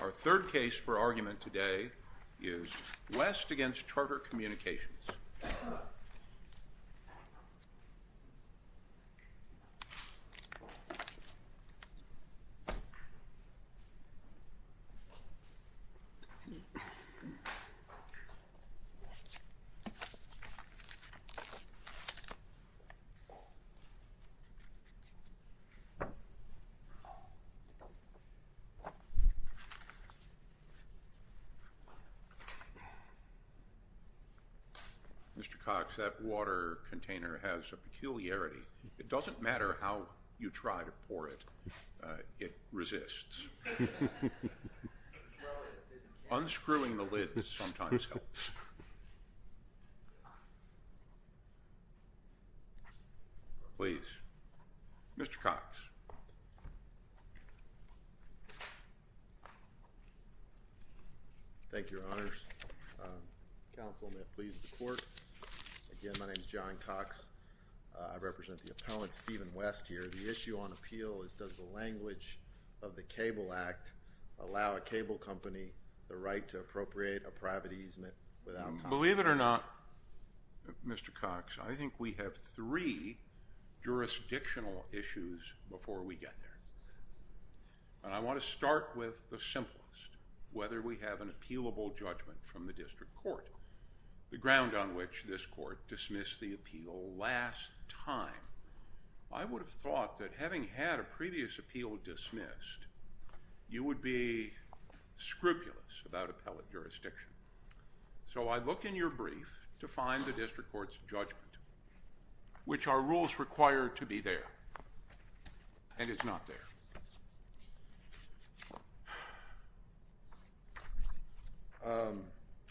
Our third case for argument today is West v. Charter Communications. Mr. Cox, that water container has a peculiarity. It doesn't matter how you try to pour it. It resists. Unscrewing the lid sometimes helps. Please. Mr. Cox. Thank you, Your Honors. Counsel, may it please the Court. Again, my name is John Cox. I represent the appellant, Stephen West, here. The issue on appeal is does the language of the Cable Act allow a cable company the right to appropriate a private easement without... Believe it or not, Mr. Cox, I think we have three jurisdictional issues before we get there. And I want to start with the simplest, whether we have an appealable judgment from the district court, the ground on which this court dismissed the appeal last time. I would have thought that having had a previous appeal dismissed, you would be scrupulous about appellate jurisdiction. So I look in your brief to find the district court's judgment, which are rules required to be there. And it's not there.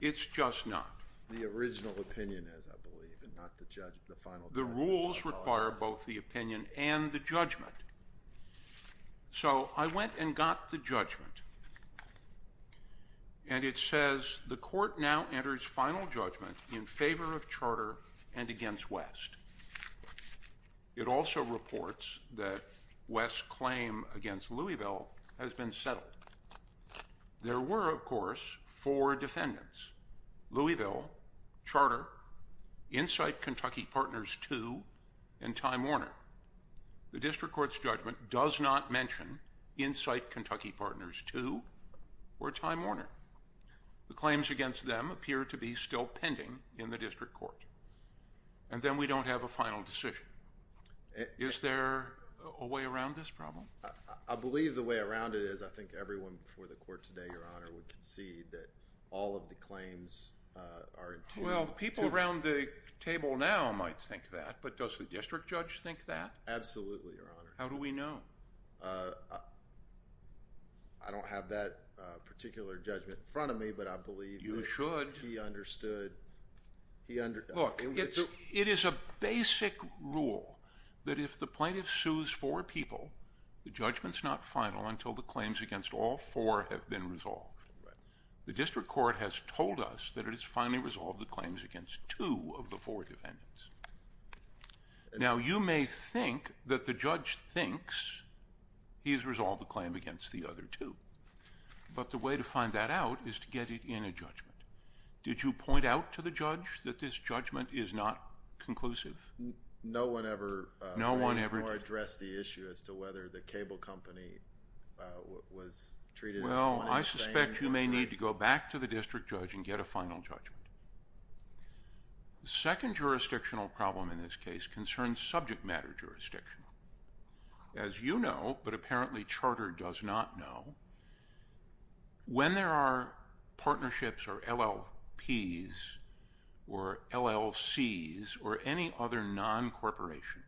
It's just not. The original opinion is, I believe, and not the final judgment. The rules require both the opinion and the judgment. So I went and got the judgment. And it says the court now enters final judgment in favor of charter and against West. It also reports that West's claim against Louisville has been settled. There were, of course, four defendants. Louisville, charter, Incite Kentucky Partners II, and Time Warner. The district court's judgment does not mention Incite Kentucky Partners II or Time Warner. The claims against them appear to be still pending in the district court. And then we don't have a final decision. Is there a way around this problem? I believe the way around it is I think everyone before the court today, Your Honor, would concede that all of the claims are in tune. Well, people around the table now might think that, but does the district judge think that? Absolutely, Your Honor. How do we know? I don't have that particular judgment in front of me, but I believe that he understood. You should. Look, it is a basic rule that if the plaintiff sues four people, the judgment's not final until the claims against all four have been resolved. The district court has told us that it has finally resolved the claims against two of the four defendants. Now, you may think that the judge thinks he has resolved the claim against the other two, but the way to find that out is to get it in a judgment. Did you point out to the judge that this judgment is not conclusive? No one ever addressed the issue as to whether the cable company was treated as one in the same? Well, I suspect you may need to go back to the district judge and get a final judgment. The second jurisdictional problem in this case concerns subject matter jurisdiction. As you know, but apparently charter does not know, when there are partnerships or LLPs or LLCs or any other non-corporation,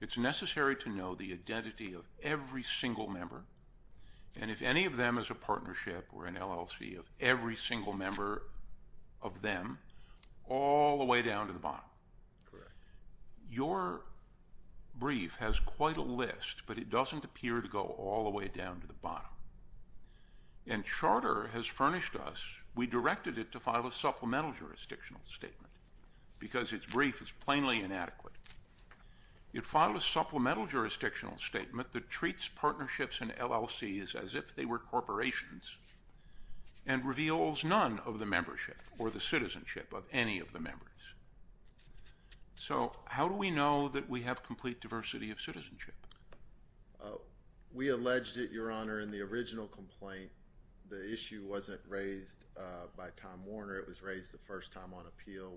it's necessary to know the identity of every single member, and if any of them is a partnership or an LLC, of every single member of them all the way down to the bottom. Correct. Your brief has quite a list, but it doesn't appear to go all the way down to the bottom. And charter has furnished us, we directed it to file a supplemental jurisdictional statement because its brief is plainly inadequate. It filed a supplemental jurisdictional statement that treats partnerships and LLCs as if they were corporations and reveals none of the membership or the citizenship of any of the members. So how do we know that we have complete diversity of citizenship? We alleged it, Your Honor, in the original complaint. The issue wasn't raised by Tom Warner. It was raised the first time on appeal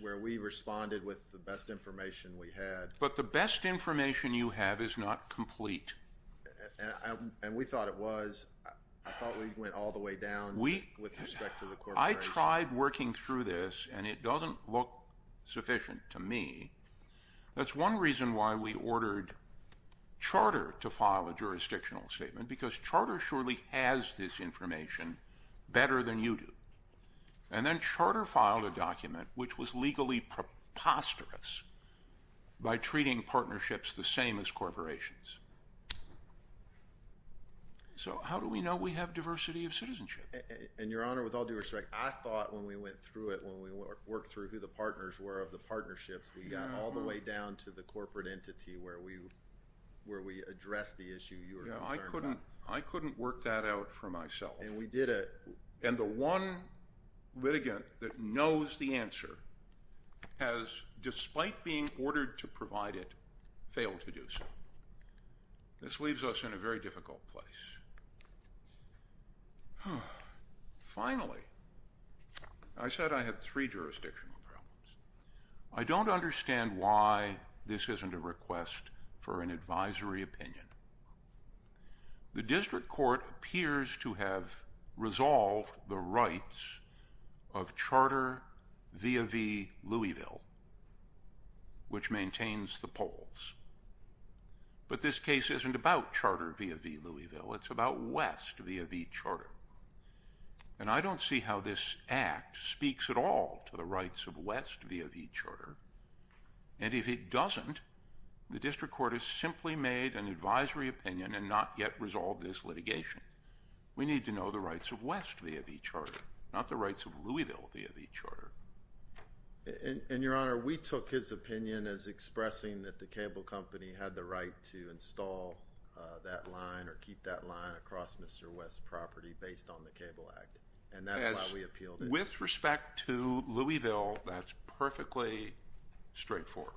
where we responded with the best information we had. But the best information you have is not complete. And we thought it was. I thought we went all the way down with respect to the corporation. I tried working through this, and it doesn't look sufficient to me. That's one reason why we ordered charter to file a jurisdictional statement, because charter surely has this information better than you do. And then charter filed a document which was legally preposterous by treating partnerships the same as corporations. So how do we know we have diversity of citizenship? And, Your Honor, with all due respect, I thought when we went through it, when we worked through who the partners were of the partnerships, we got all the way down to the corporate entity where we addressed the issue you were concerned about. I couldn't work that out for myself. And we did it. And the one litigant that knows the answer has, despite being ordered to provide it, failed to do so. This leaves us in a very difficult place. Finally, I said I had three jurisdictional problems. I don't understand why this isn't a request for an advisory opinion. The district court appears to have resolved the rights of Charter V.A.V. Louisville, which maintains the polls. But this case isn't about Charter V.A.V. Louisville. It's about West V.A.V. Charter. And I don't see how this act speaks at all to the rights of West V.A.V. Charter. And if it doesn't, the district court has simply made an advisory opinion and not yet resolved this litigation. We need to know the rights of West V.A.V. Charter, not the rights of Louisville V.A.V. Charter. And, Your Honor, we took his opinion as expressing that the cable company had the right to install that line or keep that line across Mr. West's property based on the Cable Act. And that's why we appealed it. With respect to Louisville, that's perfectly straightforward.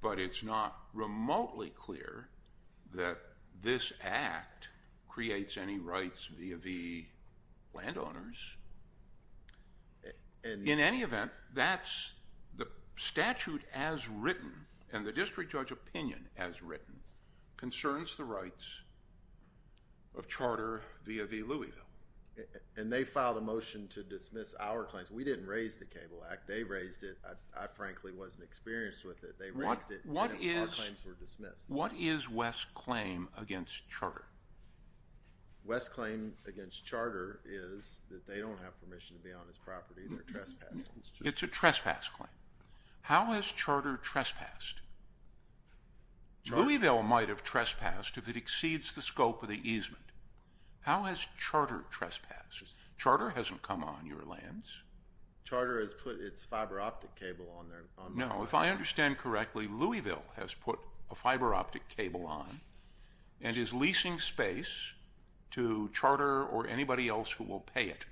But it's not remotely clear that this act creates any rights V.A.V. landowners. In any event, that's the statute as written and the district judge opinion as written concerns the rights of Charter V.A.V. Louisville. And they filed a motion to dismiss our claims. We didn't raise the Cable Act. They raised it. I frankly wasn't experienced with it. They raised it and our claims were dismissed. What is West's claim against Charter? West's claim against Charter is that they don't have permission to be on his property. They're trespassing. It's a trespass claim. How has Charter trespassed? Louisville might have trespassed if it exceeds the scope of the easement. How has Charter trespassed? Charter hasn't come on your lands. Charter has put its fiber optic cable on there. No, if I understand correctly, Louisville has put a fiber optic cable on and is leasing space to Charter or anybody else who will pay it.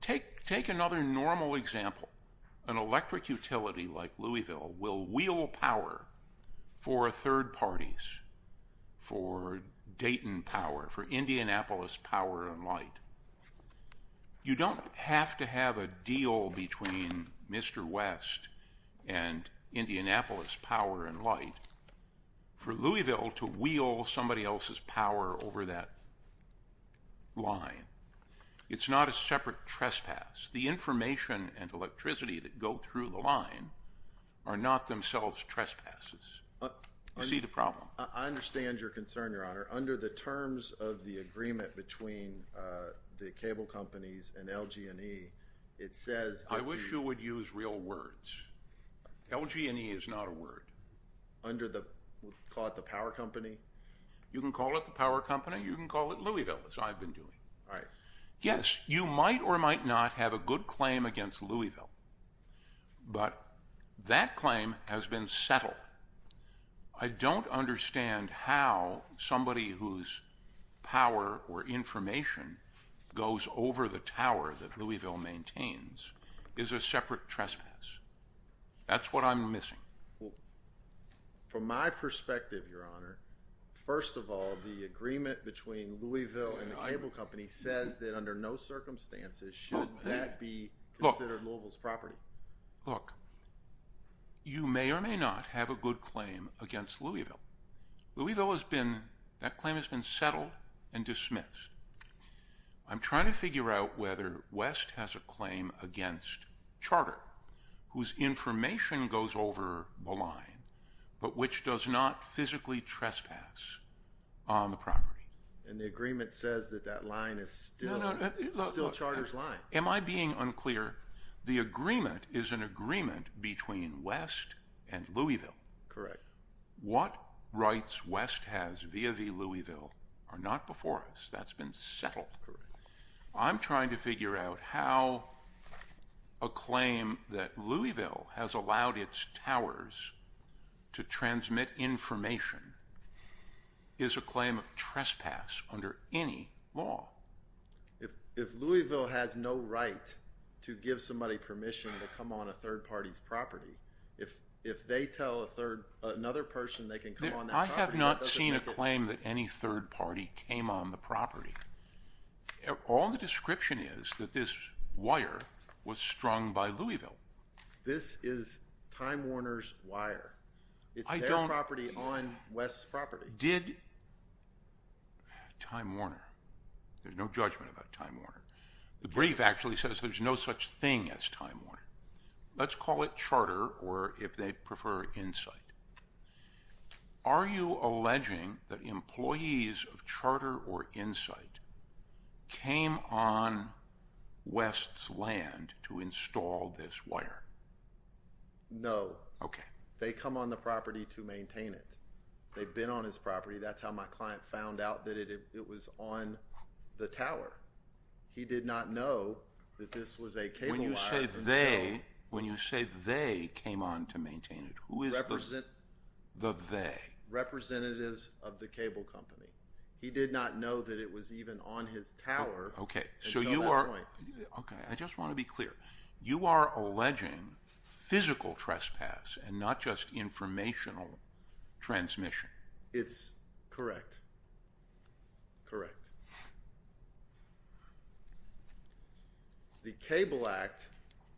Take another normal example. An electric utility like Louisville will wheel power for third parties, for Dayton Power, for Indianapolis Power and Light. You don't have to have a deal between Mr. West and Indianapolis Power and Light for Louisville to wheel somebody else's power over that line. It's not a separate trespass. The information and electricity that go through the line are not themselves trespasses. You see the problem. I understand your concern, Your Honor. Under the terms of the agreement between the cable companies and LG&E, it says that the – I wish you would use real words. LG&E is not a word. Under the – call it the power company? You can call it the power company. You can call it Louisville, as I've been doing. All right. Yes, you might or might not have a good claim against Louisville, but that claim has been settled. I don't understand how somebody whose power or information goes over the tower that Louisville maintains is a separate trespass. That's what I'm missing. From my perspective, Your Honor, first of all, the agreement between Louisville and the cable company says that under no circumstances should that be considered Louisville's property. Look, you may or may not have a good claim against Louisville. Louisville has been – that claim has been settled and dismissed. I'm trying to figure out whether West has a claim against Charter, whose information goes over the line but which does not physically trespass on the property. And the agreement says that that line is still Charter's line. Am I being unclear? The agreement is an agreement between West and Louisville. Correct. What rights West has via Louisville are not before us. That's been settled. Correct. I'm trying to figure out how a claim that Louisville has allowed its towers to transmit information is a claim of trespass under any law. If Louisville has no right to give somebody permission to come on a third party's property, if they tell another person they can come on that property, that doesn't make a – I have not seen a claim that any third party came on the property. All the description is that this wire was strung by Louisville. This is Time Warner's wire. I don't – It's their property on West's property. Time Warner. There's no judgment about Time Warner. The brief actually says there's no such thing as Time Warner. Let's call it Charter or, if they prefer, Insight. Are you alleging that employees of Charter or Insight came on West's land to install this wire? No. Okay. They come on the property to maintain it. They've been on his property. That's how my client found out that it was on the tower. He did not know that this was a cable wire until – When you say they came on to maintain it, who is the they? Representatives of the cable company. He did not know that it was even on his tower until that point. Okay. I just want to be clear. You are alleging physical trespass and not just informational transmission. It's correct. Correct. The Cable Act,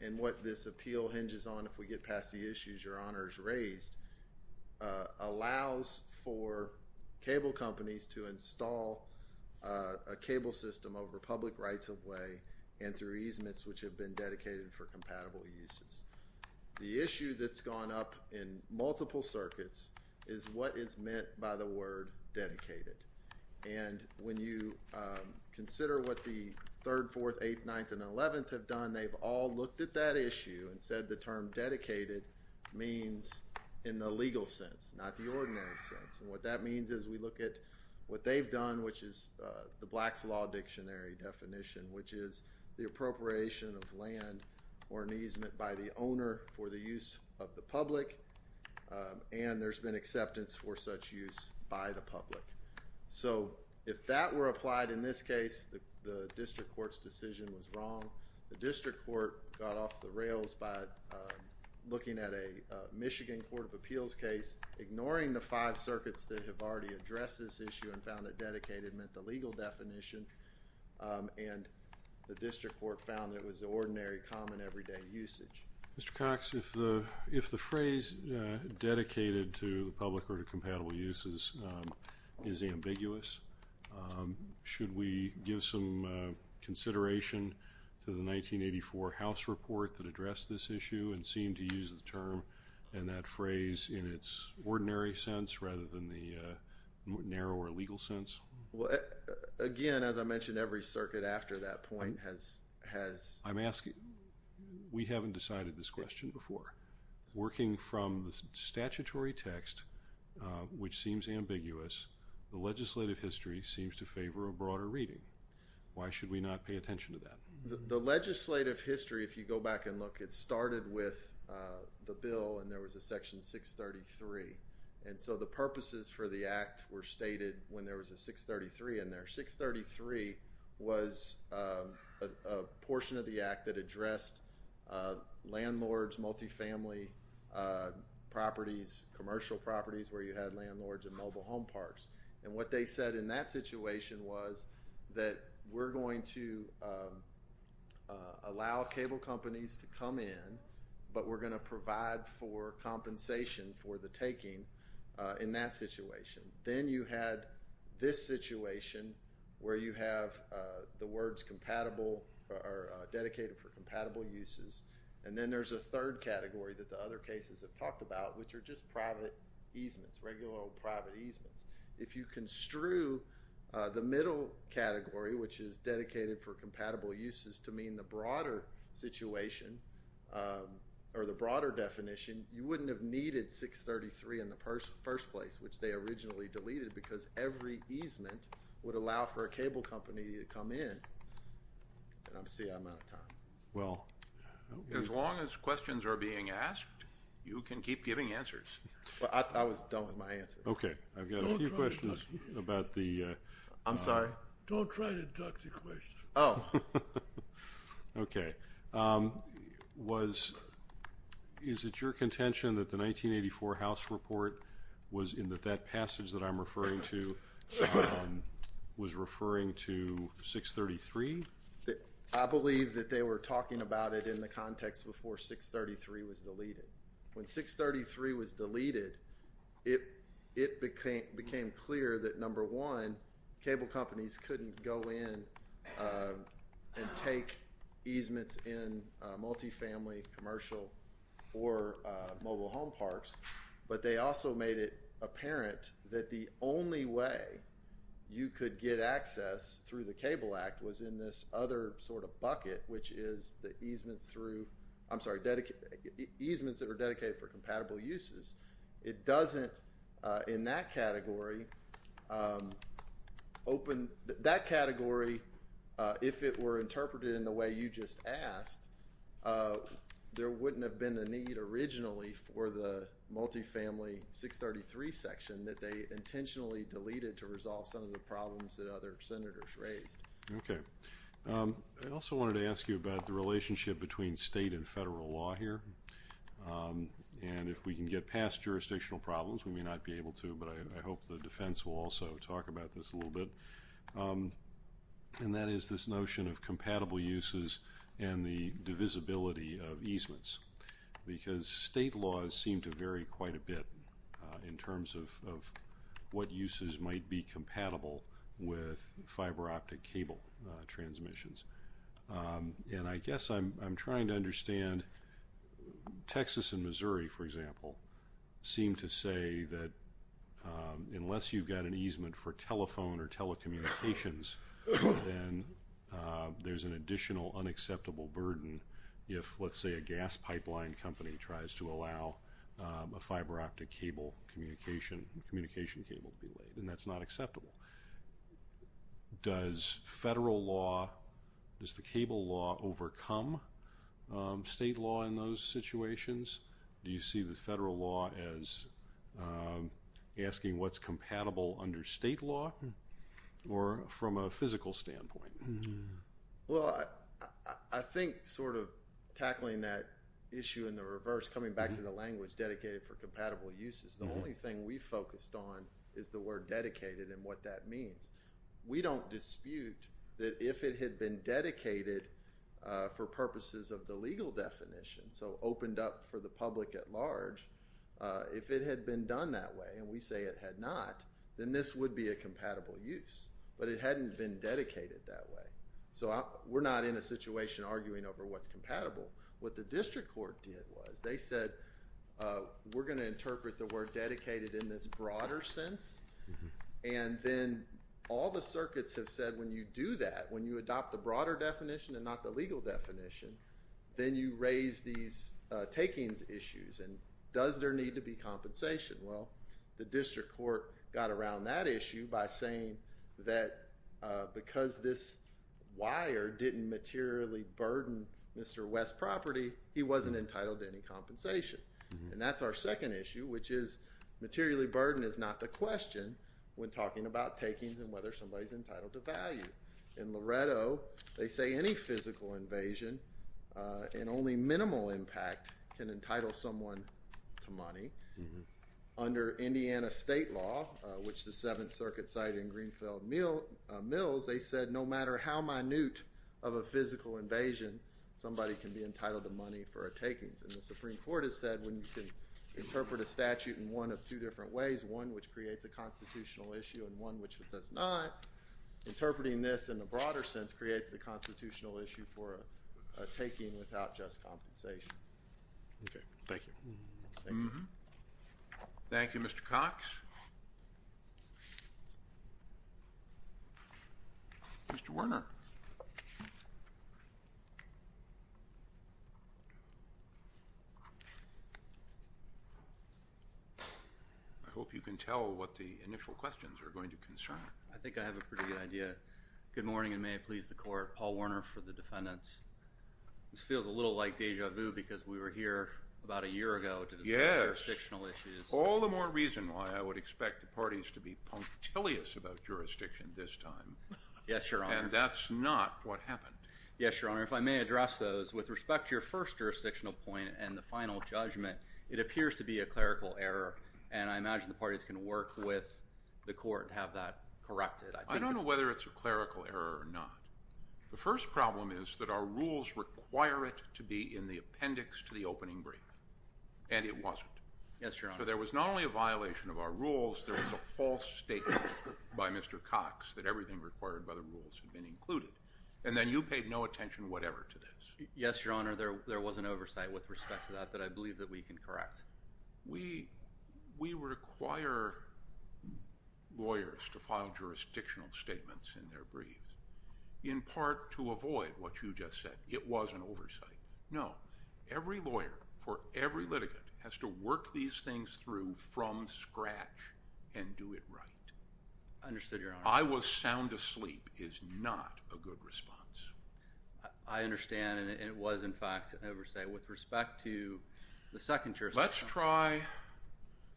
and what this appeal hinges on if we get past the issues Your Honor has raised, allows for cable companies to install a cable system over public rights of way and through easements which have been dedicated for compatible uses. The issue that's gone up in multiple circuits is what is meant by the word dedicated. And when you consider what the 3rd, 4th, 8th, 9th, and 11th have done, they've all looked at that issue and said the term dedicated means in the legal sense, not the ordinary sense. And what that means is we look at what they've done, which is the Black's Law Dictionary definition, which is the appropriation of land or an easement by the owner for the use of the public, and there's been acceptance for such use by the public. So if that were applied in this case, the district court's decision was wrong. The district court got off the rails by looking at a Michigan Court of Appeals case, ignoring the five circuits that have already addressed this issue and found that dedicated meant the legal definition, and the district court found it was the ordinary, common, everyday usage. Mr. Cox, if the phrase dedicated to the public or to compatible uses is ambiguous, should we give some consideration to the 1984 House report that addressed this issue and seem to use the term and that phrase in its ordinary sense rather than the narrower legal sense? Well, again, as I mentioned, every circuit after that point has... I'm asking, we haven't decided this question before. Working from the statutory text, which seems ambiguous, the legislative history seems to favor a broader reading. Why should we not pay attention to that? The legislative history, if you go back and look, it started with the bill and there was a section 633, and so the purposes for the act were stated when there was a 633 in there. 633 was a portion of the act that addressed landlords, multifamily properties, commercial properties where you had landlords and mobile home parks. And what they said in that situation was that we're going to allow cable companies to come in, but we're going to provide for compensation for the taking in that situation. Then you had this situation where you have the words compatible or dedicated for compatible uses, and then there's a third category that the other cases have talked about, which are just private easements, regular old private easements. If you construe the middle category, which is dedicated for compatible uses to mean the broader situation or the broader definition, you wouldn't have needed 633 in the first place, which they originally deleted because every easement would allow for a cable company to come in. And I'm seeing I'm out of time. Well. As long as questions are being asked, you can keep giving answers. I was done with my answer. Okay. I've got a few questions about the. I'm sorry. Don't try to duck the question. Oh. Okay. Was, is it your contention that the 1984 House report was in that that passage that I'm referring to was referring to 633? I believe that they were talking about it in the context before 633 was deleted. When 633 was deleted, it became clear that, number one, cable companies couldn't go in and take easements in multifamily, commercial, or mobile home parks. But they also made it apparent that the only way you could get access through the Cable Act was in this other sort of bucket, which is the easements through, I'm sorry, easements that are dedicated for compatible uses. It doesn't, in that category, open that category, if it were interpreted in the way you just asked, there wouldn't have been a need originally for the multifamily 633 section that they intentionally deleted to resolve some of the problems that other senators raised. Okay. I also wanted to ask you about the relationship between state and federal law here. And if we can get past jurisdictional problems, we may not be able to, but I hope the defense will also talk about this a little bit. And that is this notion of compatible uses and the divisibility of easements. Because state laws seem to vary quite a bit in terms of what uses might be compatible with fiber optic cable transmissions. And I guess I'm trying to understand, Texas and Missouri, for example, seem to say that unless you've got an easement for telephone or telecommunications, then there's an additional unacceptable burden if, let's say, a gas pipeline company tries to allow a fiber optic communication cable to be laid. And that's not acceptable. Does federal law, does the cable law overcome state law in those situations? Do you see the federal law as asking what's compatible under state law or from a physical standpoint? Well, I think sort of tackling that issue in the reverse, coming back to the language dedicated for compatible uses, the only thing we focused on is the word dedicated and what that means. We don't dispute that if it had been dedicated for purposes of the legal definition, so opened up for the public at large, if it had been done that way, and we say it had not, then this would be a compatible use. But it hadn't been dedicated that way. So we're not in a situation arguing over what's compatible. What the district court did was they said we're going to interpret the word dedicated in this broader sense. And then all the circuits have said when you do that, when you adopt the broader definition and not the legal definition, then you raise these takings issues. And does there need to be compensation? Well, the district court got around that issue by saying that because this wire didn't materially burden Mr. West's property, he wasn't entitled to any compensation. And that's our second issue, which is materially burden is not the question when talking about takings and whether somebody's entitled to value. In Loretto, they say any physical invasion and only minimal impact can entitle someone to money. Under Indiana state law, which the Seventh Circuit cited in Greenfield Mills, they said no matter how minute of a physical invasion, somebody can be entitled to money for a takings. And the Supreme Court has said when you can interpret a statute in one of two different ways, one which creates a constitutional issue and one which does not, interpreting this in the broader sense creates the constitutional issue for a taking without just compensation. Okay. Thank you. Thank you, Mr. Cox. Mr. Werner. Mr. Werner. I hope you can tell what the initial questions are going to concern. I think I have a pretty good idea. Good morning, and may it please the court. Paul Werner for the defendants. This feels a little like deja vu because we were here about a year ago to discuss jurisdictional issues. Yes. All the more reason why I would expect the parties to be punctilious about jurisdiction this time. Yes, Your Honor. And that's not what happened. Yes, Your Honor. If I may address those, with respect to your first jurisdictional point and the final judgment, it appears to be a clerical error, and I imagine the parties can work with the court to have that corrected. I don't know whether it's a clerical error or not. The first problem is that our rules require it to be in the appendix to the opening brief, and it wasn't. Yes, Your Honor. But there was not only a violation of our rules. There was a false statement by Mr. Cox that everything required by the rules had been included, and then you paid no attention whatever to this. Yes, Your Honor. There was an oversight with respect to that that I believe that we can correct. We require lawyers to file jurisdictional statements in their briefs, in part to avoid what you just said. It was an oversight. No. Every lawyer for every litigant has to work these things through from scratch and do it right. Understood, Your Honor. I was sound asleep is not a good response. I understand, and it was, in fact, an oversight. With respect to the second jurisdictional problem. Let's try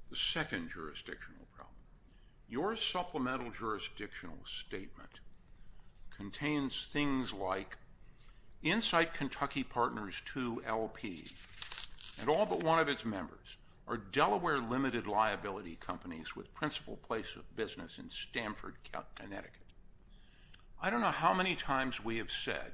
the second jurisdictional problem. Your supplemental jurisdictional statement contains things like, Insight Kentucky Partners 2LP and all but one of its members are Delaware limited liability companies with principal place of business in Stanford, Connecticut. I don't know how many times we have said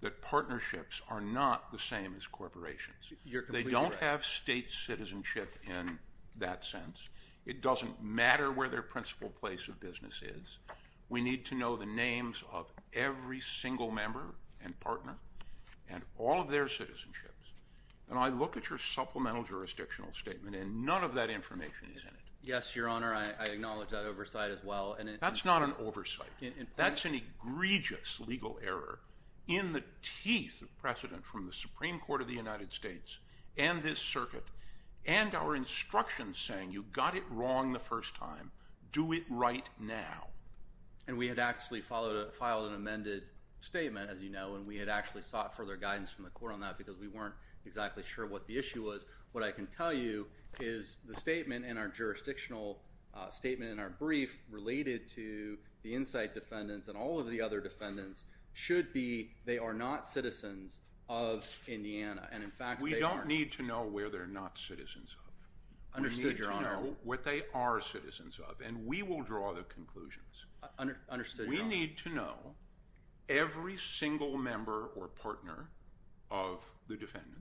that partnerships are not the same as corporations. You're completely right. They don't have state citizenship in that sense. It doesn't matter where their principal place of business is. We need to know the names of every single member and partner and all of their citizenships. And I look at your supplemental jurisdictional statement and none of that information is in it. Yes, Your Honor. I acknowledge that oversight as well. That's not an oversight. That's an egregious legal error in the teeth of precedent from the Supreme Court of the United States and this circuit and our instructions saying you got it wrong the first time. Do it right now. And we had actually filed an amended statement, as you know, and we had actually sought further guidance from the court on that because we weren't exactly sure what the issue was. What I can tell you is the statement in our jurisdictional statement in our brief related to the Insight defendants and all of the other defendants should be they are not citizens of Indiana. And, in fact, they are. We don't need to know where they're not citizens of. Understood, Your Honor. We need to know what they are citizens of, and we will draw the conclusions. Understood, Your Honor. We need to know every single member or partner of the defendants.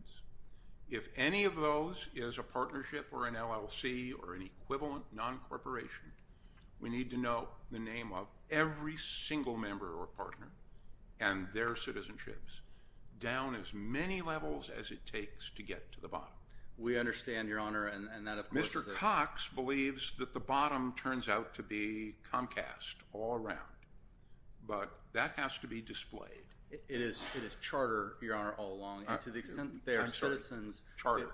If any of those is a partnership or an LLC or an equivalent non-corporation, we need to know the name of every single member or partner and their citizenships down as many levels as it takes to get to the bottom. We understand, Your Honor, and that, of course. Mr. Cox believes that the bottom turns out to be Comcast all around, but that has to be displayed. It is charter, Your Honor, all along. And to the extent that they are citizens. Charter.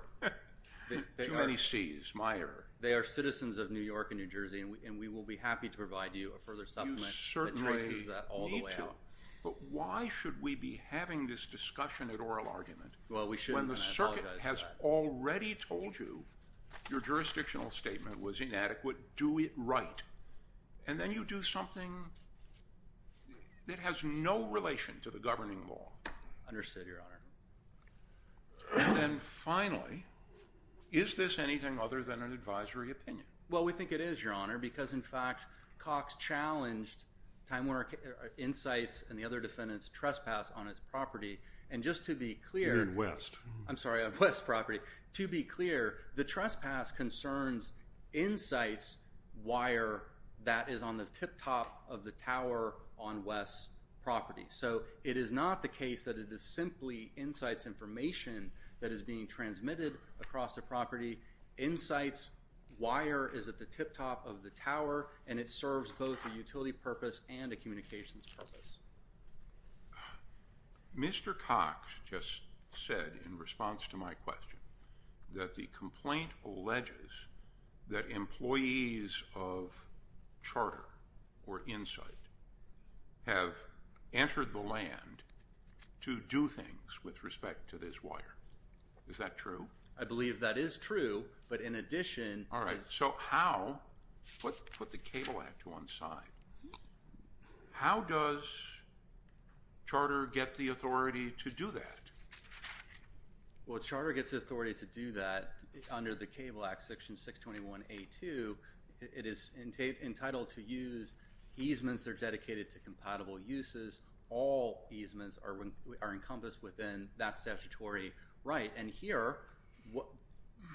Too many Cs, my error. They are citizens of New York and New Jersey, and we will be happy to provide you a further supplement that traces that all the way out. But why should we be having this discussion at oral argument when the circuit has already told you your jurisdictional statement was inadequate, do it right. And then you do something that has no relation to the governing law. Understood, Your Honor. And then finally, is this anything other than an advisory opinion? Well, we think it is, Your Honor, because, in fact, Cox challenged Time Warner Insights and the other defendants' trespass on his property. And just to be clear. You're in West. I'm sorry, on West property. To be clear, the trespass concerns Insights wire that is on the tip top of the tower on West's property. So it is not the case that it is simply Insights information that is being transmitted across the property. Insights wire is at the tip top of the tower, and it serves both a utility purpose and a communications purpose. Mr. Cox just said, in response to my question, that the complaint alleges that employees of Charter or Insights have entered the land to do things with respect to this wire. Is that true? I believe that is true. But in addition. All right. So how? Let's put the Cable Act to one side. How does Charter get the authority to do that? Well, Charter gets the authority to do that under the Cable Act, Section 621A2. It is entitled to use easements that are dedicated to compatible uses. All easements are encompassed within that statutory right. And here,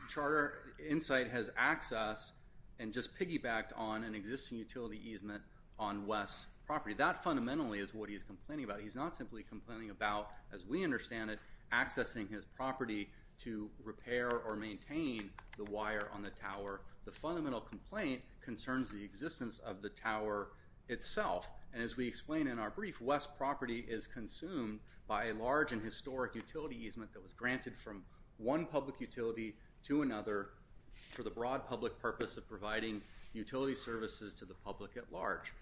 Charter or Insights has accessed and just piggybacked on an existing utility easement on West's property. That fundamentally is what he is complaining about. He's not simply complaining about, as we understand it, accessing his property to repair or maintain the wire on the tower. The fundamental complaint concerns the existence of the tower itself. And as we explain in our brief, West's property is consumed by a large and historic utility easement that was granted from one public utility to another for the broad public purpose of providing utility services to the public at large.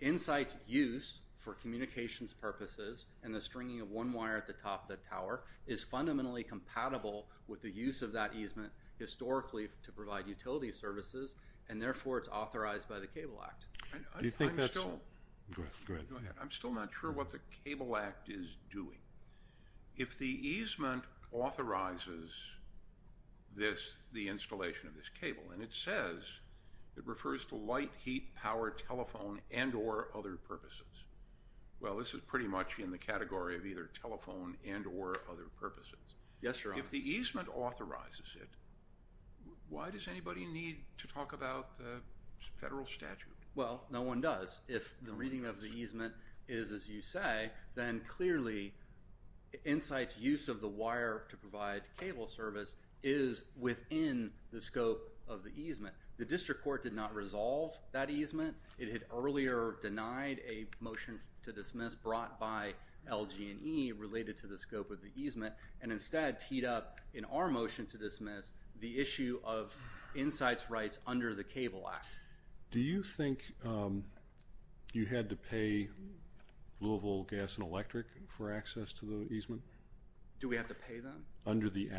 Insights' use for communications purposes and the stringing of one wire at the top of the tower is fundamentally compatible with the use of that easement historically to provide utility services, and therefore, it's authorized by the Cable Act. I'm still not sure what the Cable Act is doing. If the easement authorizes this, the installation of this cable, and it says it refers to light, heat, power, telephone, and or other purposes. Well, this is pretty much in the category of either telephone and or other purposes. Yes, sir. If the easement authorizes it, why does anybody need to talk about the federal statute? Well, no one does. If the reading of the easement is as you say, then clearly Insights' use of the wire to provide cable service is within the scope of the easement. The district court did not resolve that easement. It had earlier denied a motion to dismiss brought by LG&E related to the scope of the easement and instead teed up in our motion to dismiss the issue of Insights' rights under the Cable Act. Do you think you had to pay Louisville Gas and Electric for access to the easement? Do we have to pay them? Under the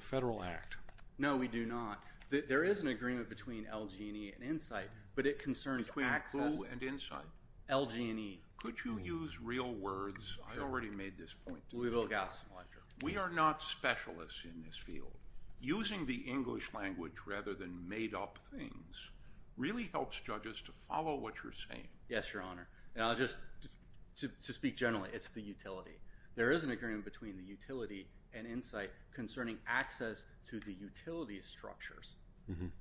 federal act. No, we do not. There is an agreement between LG&E and Insights, but it concerns access. Between who and Insights? LG&E. Could you use real words? I already made this point to you. Louisville Gas and Electric. We are not specialists in this field. Using the English language rather than made up things really helps judges to follow what you're saying. Yes, Your Honor. And I'll just, to speak generally, it's the utility. There is an agreement between the utility and Insights concerning access to the utility structures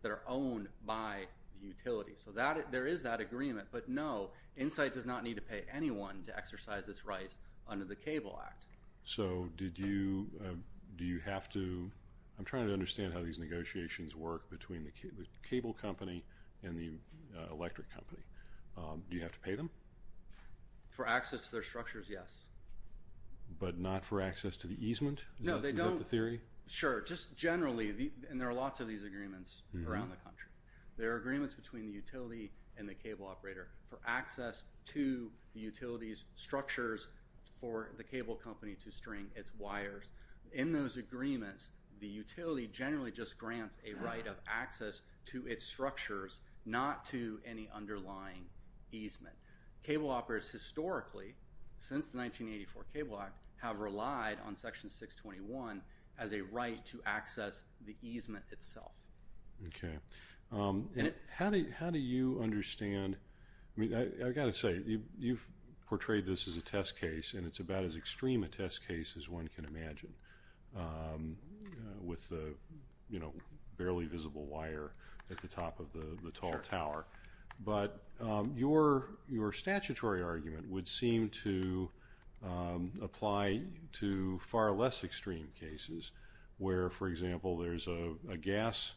that are owned by the utility. So there is that agreement, but no, Insights does not need to pay anyone to exercise its rights under the Cable Act. So did you, do you have to, I'm trying to understand how these negotiations work between the cable company and the electric company. Do you have to pay them? For access to their structures, yes. But not for access to the easement? No, they don't. Is that the theory? Sure. Just generally, and there are lots of these agreements around the country. There are agreements between the utility and the cable operator for access to the utility's structures for the cable company to string its wires. In those agreements, the utility generally just grants a right of access to its structures, not to any underlying easement. Cable operators historically, since the 1984 Cable Act, have relied on Section 621 as a right to access the easement itself. Okay. How do you understand, I mean, I've got to say, you've portrayed this as a test case, and it's about as extreme a test case as one can imagine with the, you know, barely visible wire at the top of the tall tower. But your statutory argument would seem to apply to far less extreme cases, where, for example, there's a gas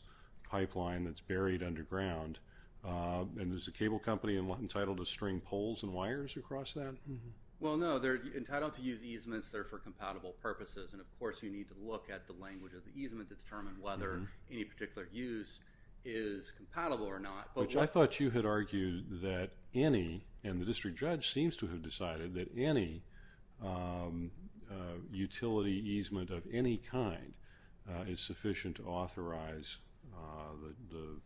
pipeline that's buried underground, and is the cable company entitled to string poles and wires across that? Well, no, they're entitled to use easements that are for compatible purposes. And, of course, you need to look at the language of the easement to determine whether any particular use is compatible or not. Which I thought you had argued that any, and the district judge seems to have decided, that any utility easement of any kind is sufficient to authorize the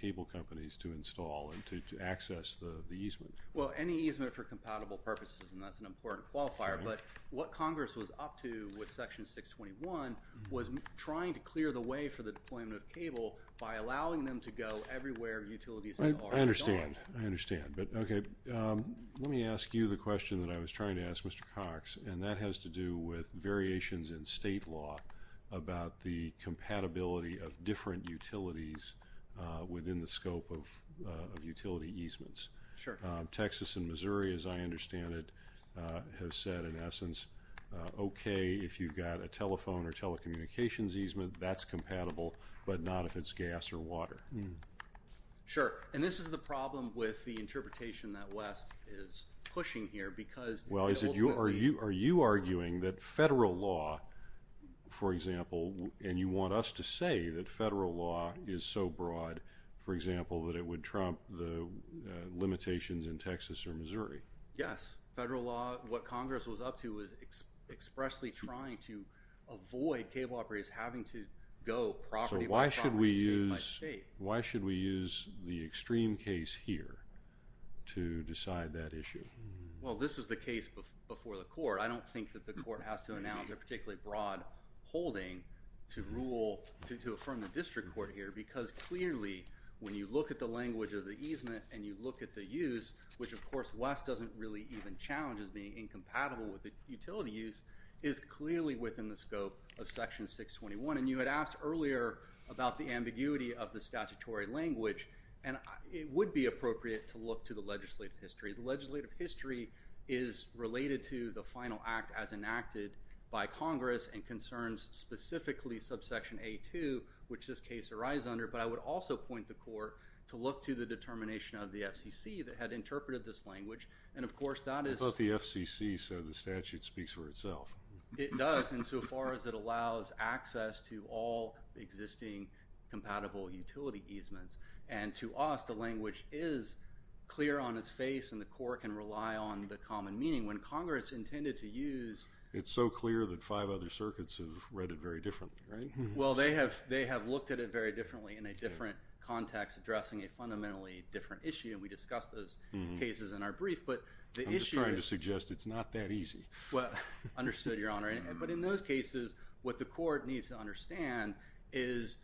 cable companies to install and to access the easement. Well, any easement for compatible purposes, and that's an important qualifier. But what Congress was up to with Section 621 was trying to clear the way for the deployment of cable by allowing them to go everywhere utilities are. I understand. I understand. But, okay, let me ask you the question that I was trying to ask Mr. Cox, and that has to do with variations in state law about the compatibility of different utilities within the scope of utility easements. Sure. Texas and Missouri, as I understand it, have said, in essence, okay, if you've got a telephone or telecommunications easement, that's compatible, but not if it's gas or water. Sure. And this is the problem with the interpretation that West is pushing here because, ultimately… Well, are you arguing that federal law, for example, and you want us to say that federal law is so broad, for example, that it would trump the limitations in Texas or Missouri? Yes. Federal law, what Congress was up to was expressly trying to avoid cable operators having to go property-by-property, state-by-state. So why should we use the extreme case here to decide that issue? Well, this is the case before the court. I don't think that the court has to announce a particularly broad holding to rule, to affirm the district court here, because, clearly, when you look at the language of the easement and you look at the use, which, of course, West doesn't really even challenge as being incompatible with the utility use, is clearly within the scope of Section 621. And you had asked earlier about the ambiguity of the statutory language, and it would be appropriate to look to the legislative history. The legislative history is related to the final act as enacted by Congress and concerns specifically subsection A2, which this case arises under. But I would also point the court to look to the determination of the FCC that had interpreted this language. And, of course, that is… It's not the FCC, so the statute speaks for itself. It does, insofar as it allows access to all existing compatible utility easements. And to us, the language is clear on its face, and the court can rely on the common meaning. When Congress intended to use… It's so clear that five other circuits have read it very differently, right? Well, they have looked at it very differently in a different context, addressing a fundamentally different issue, and we discussed those cases in our brief. But the issue is… I'm just trying to suggest it's not that easy. Well, understood, Your Honor. But in those cases, what the court needs to understand is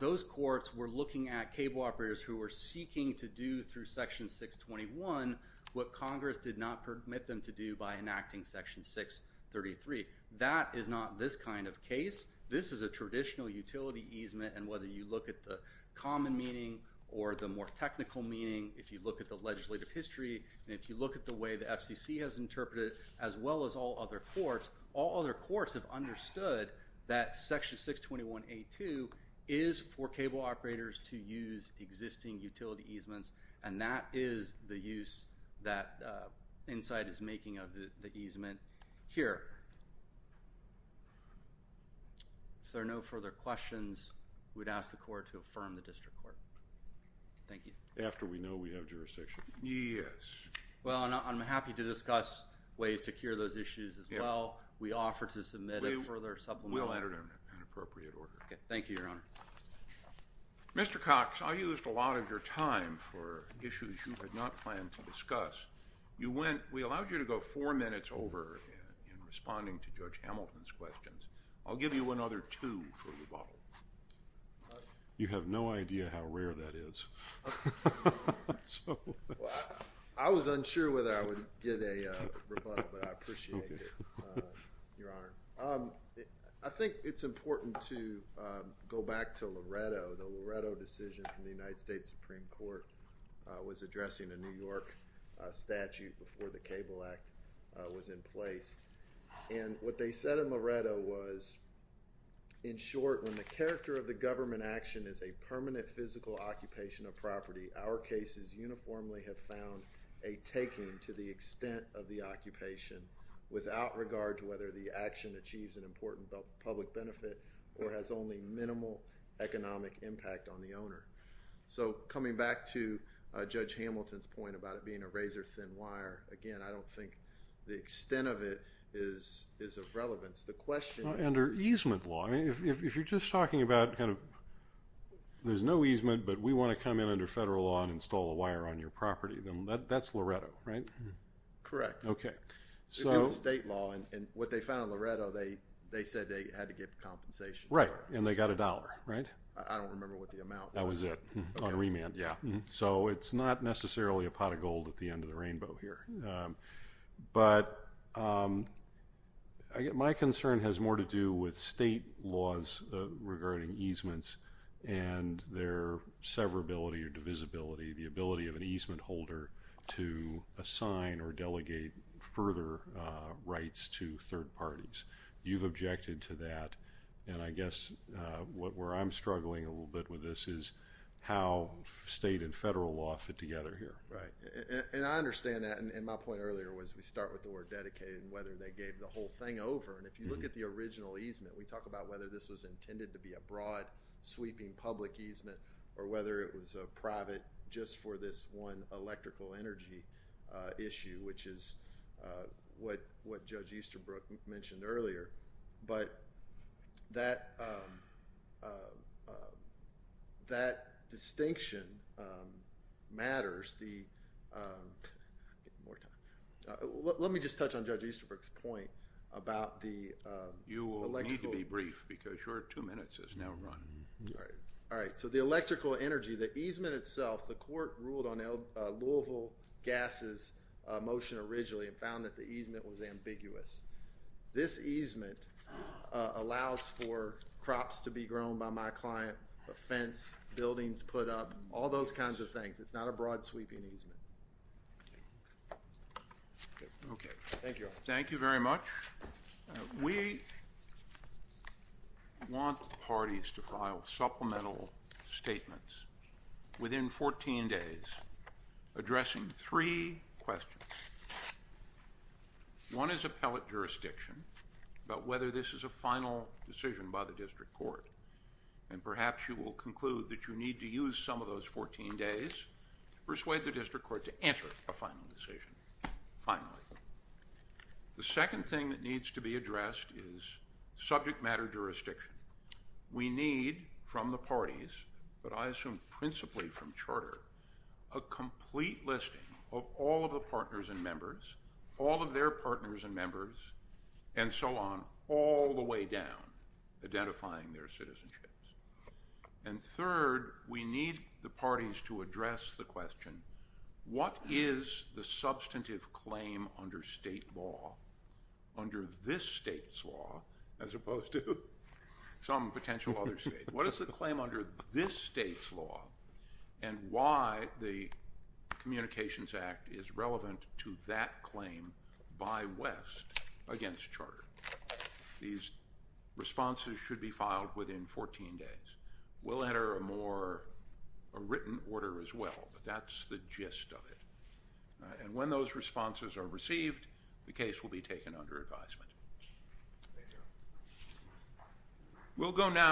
those courts were looking at cable operators who were seeking to do through Section 621 what Congress did not permit them to do by enacting Section 633. That is not this kind of case. This is a traditional utility easement. And whether you look at the common meaning or the more technical meaning, if you look at the legislative history and if you look at the way the FCC has interpreted it, as well as all other courts, all other courts have understood that Section 621A2 is for cable operators to use existing utility easements, and that is the use that Insight is making of the easement here. If there are no further questions, we'd ask the court to affirm the district court. Thank you. After we know we have jurisdiction. Yes. Well, I'm happy to discuss ways to cure those issues as well. We offer to submit a further supplement. We'll enter it in an appropriate order. Thank you, Your Honor. Mr. Cox, I used a lot of your time for issues you had not planned to discuss. We allowed you to go four minutes over in responding to Judge Hamilton's questions. I'll give you another two for rebuttal. You have no idea how rare that is. I was unsure whether I would get a rebuttal, but I appreciate it, Your Honor. I think it's important to go back to Loretto. The Loretto decision from the United States Supreme Court was addressing a New York statute before the Cable Act was in place. And what they said in Loretto was, in short, when the character of the government action is a permanent physical occupation of property, our cases uniformly have found a taking to the extent of the occupation without regard to whether the action achieves an important public benefit or has only minimal economic impact on the owner. So coming back to Judge Hamilton's point about it being a razor-thin wire, again, I don't think the extent of it is of relevance. Under easement law, if you're just talking about there's no easement, but we want to come in under federal law and install a wire on your property, that's Loretto, right? Correct. Okay. It's state law, and what they found in Loretto, they said they had to give compensation. Right, and they got a dollar, right? I don't remember what the amount was. That was it, on remand. Yeah. So it's not necessarily a pot of gold at the end of the rainbow here. But my concern has more to do with state laws regarding easements and their severability or divisibility, the ability of an easement holder to assign or delegate further rights to third parties. You've objected to that, and I guess where I'm struggling a little bit with this is how state and federal law fit together here. Right, and I understand that. And my point earlier was we start with the word dedicated and whether they gave the whole thing over. And if you look at the original easement, we talk about whether this was intended to be a broad, sweeping public easement or whether it was a private just for this one electrical energy issue, which is what Judge Easterbrook mentioned earlier. But that distinction matters. Let me just touch on Judge Easterbrook's point about the electrical. You will need to be brief because your two minutes has now run. All right. So the electrical energy, the easement itself, the court ruled on Louisville gases motion originally and found that the easement was ambiguous. This easement allows for crops to be grown by my client, a fence, buildings put up, all those kinds of things. It's not a broad, sweeping easement. Okay. Thank you. Thank you very much. We want parties to file supplemental statements within 14 days, addressing three questions. One is appellate jurisdiction, about whether this is a final decision by the district court. And perhaps you will conclude that you need to use some of those 14 days to persuade the district court to enter a final decision finally. The second thing that needs to be addressed is subject matter jurisdiction. We need from the parties, but I assume principally from charter, a complete listing of all of the partners and members, all of their partners and members, and so on, all the way down identifying their citizenships. What is the substantive claim under state law under this state's law, as opposed to some potential other state? What is the claim under this state's law? And why the communications act is relevant to that claim by West against charter. These responses should be filed within 14 days. We'll enter a more, a written order as well, but that's the gist of it. And when those responses are received, the case will be taken under advisement. We'll go now.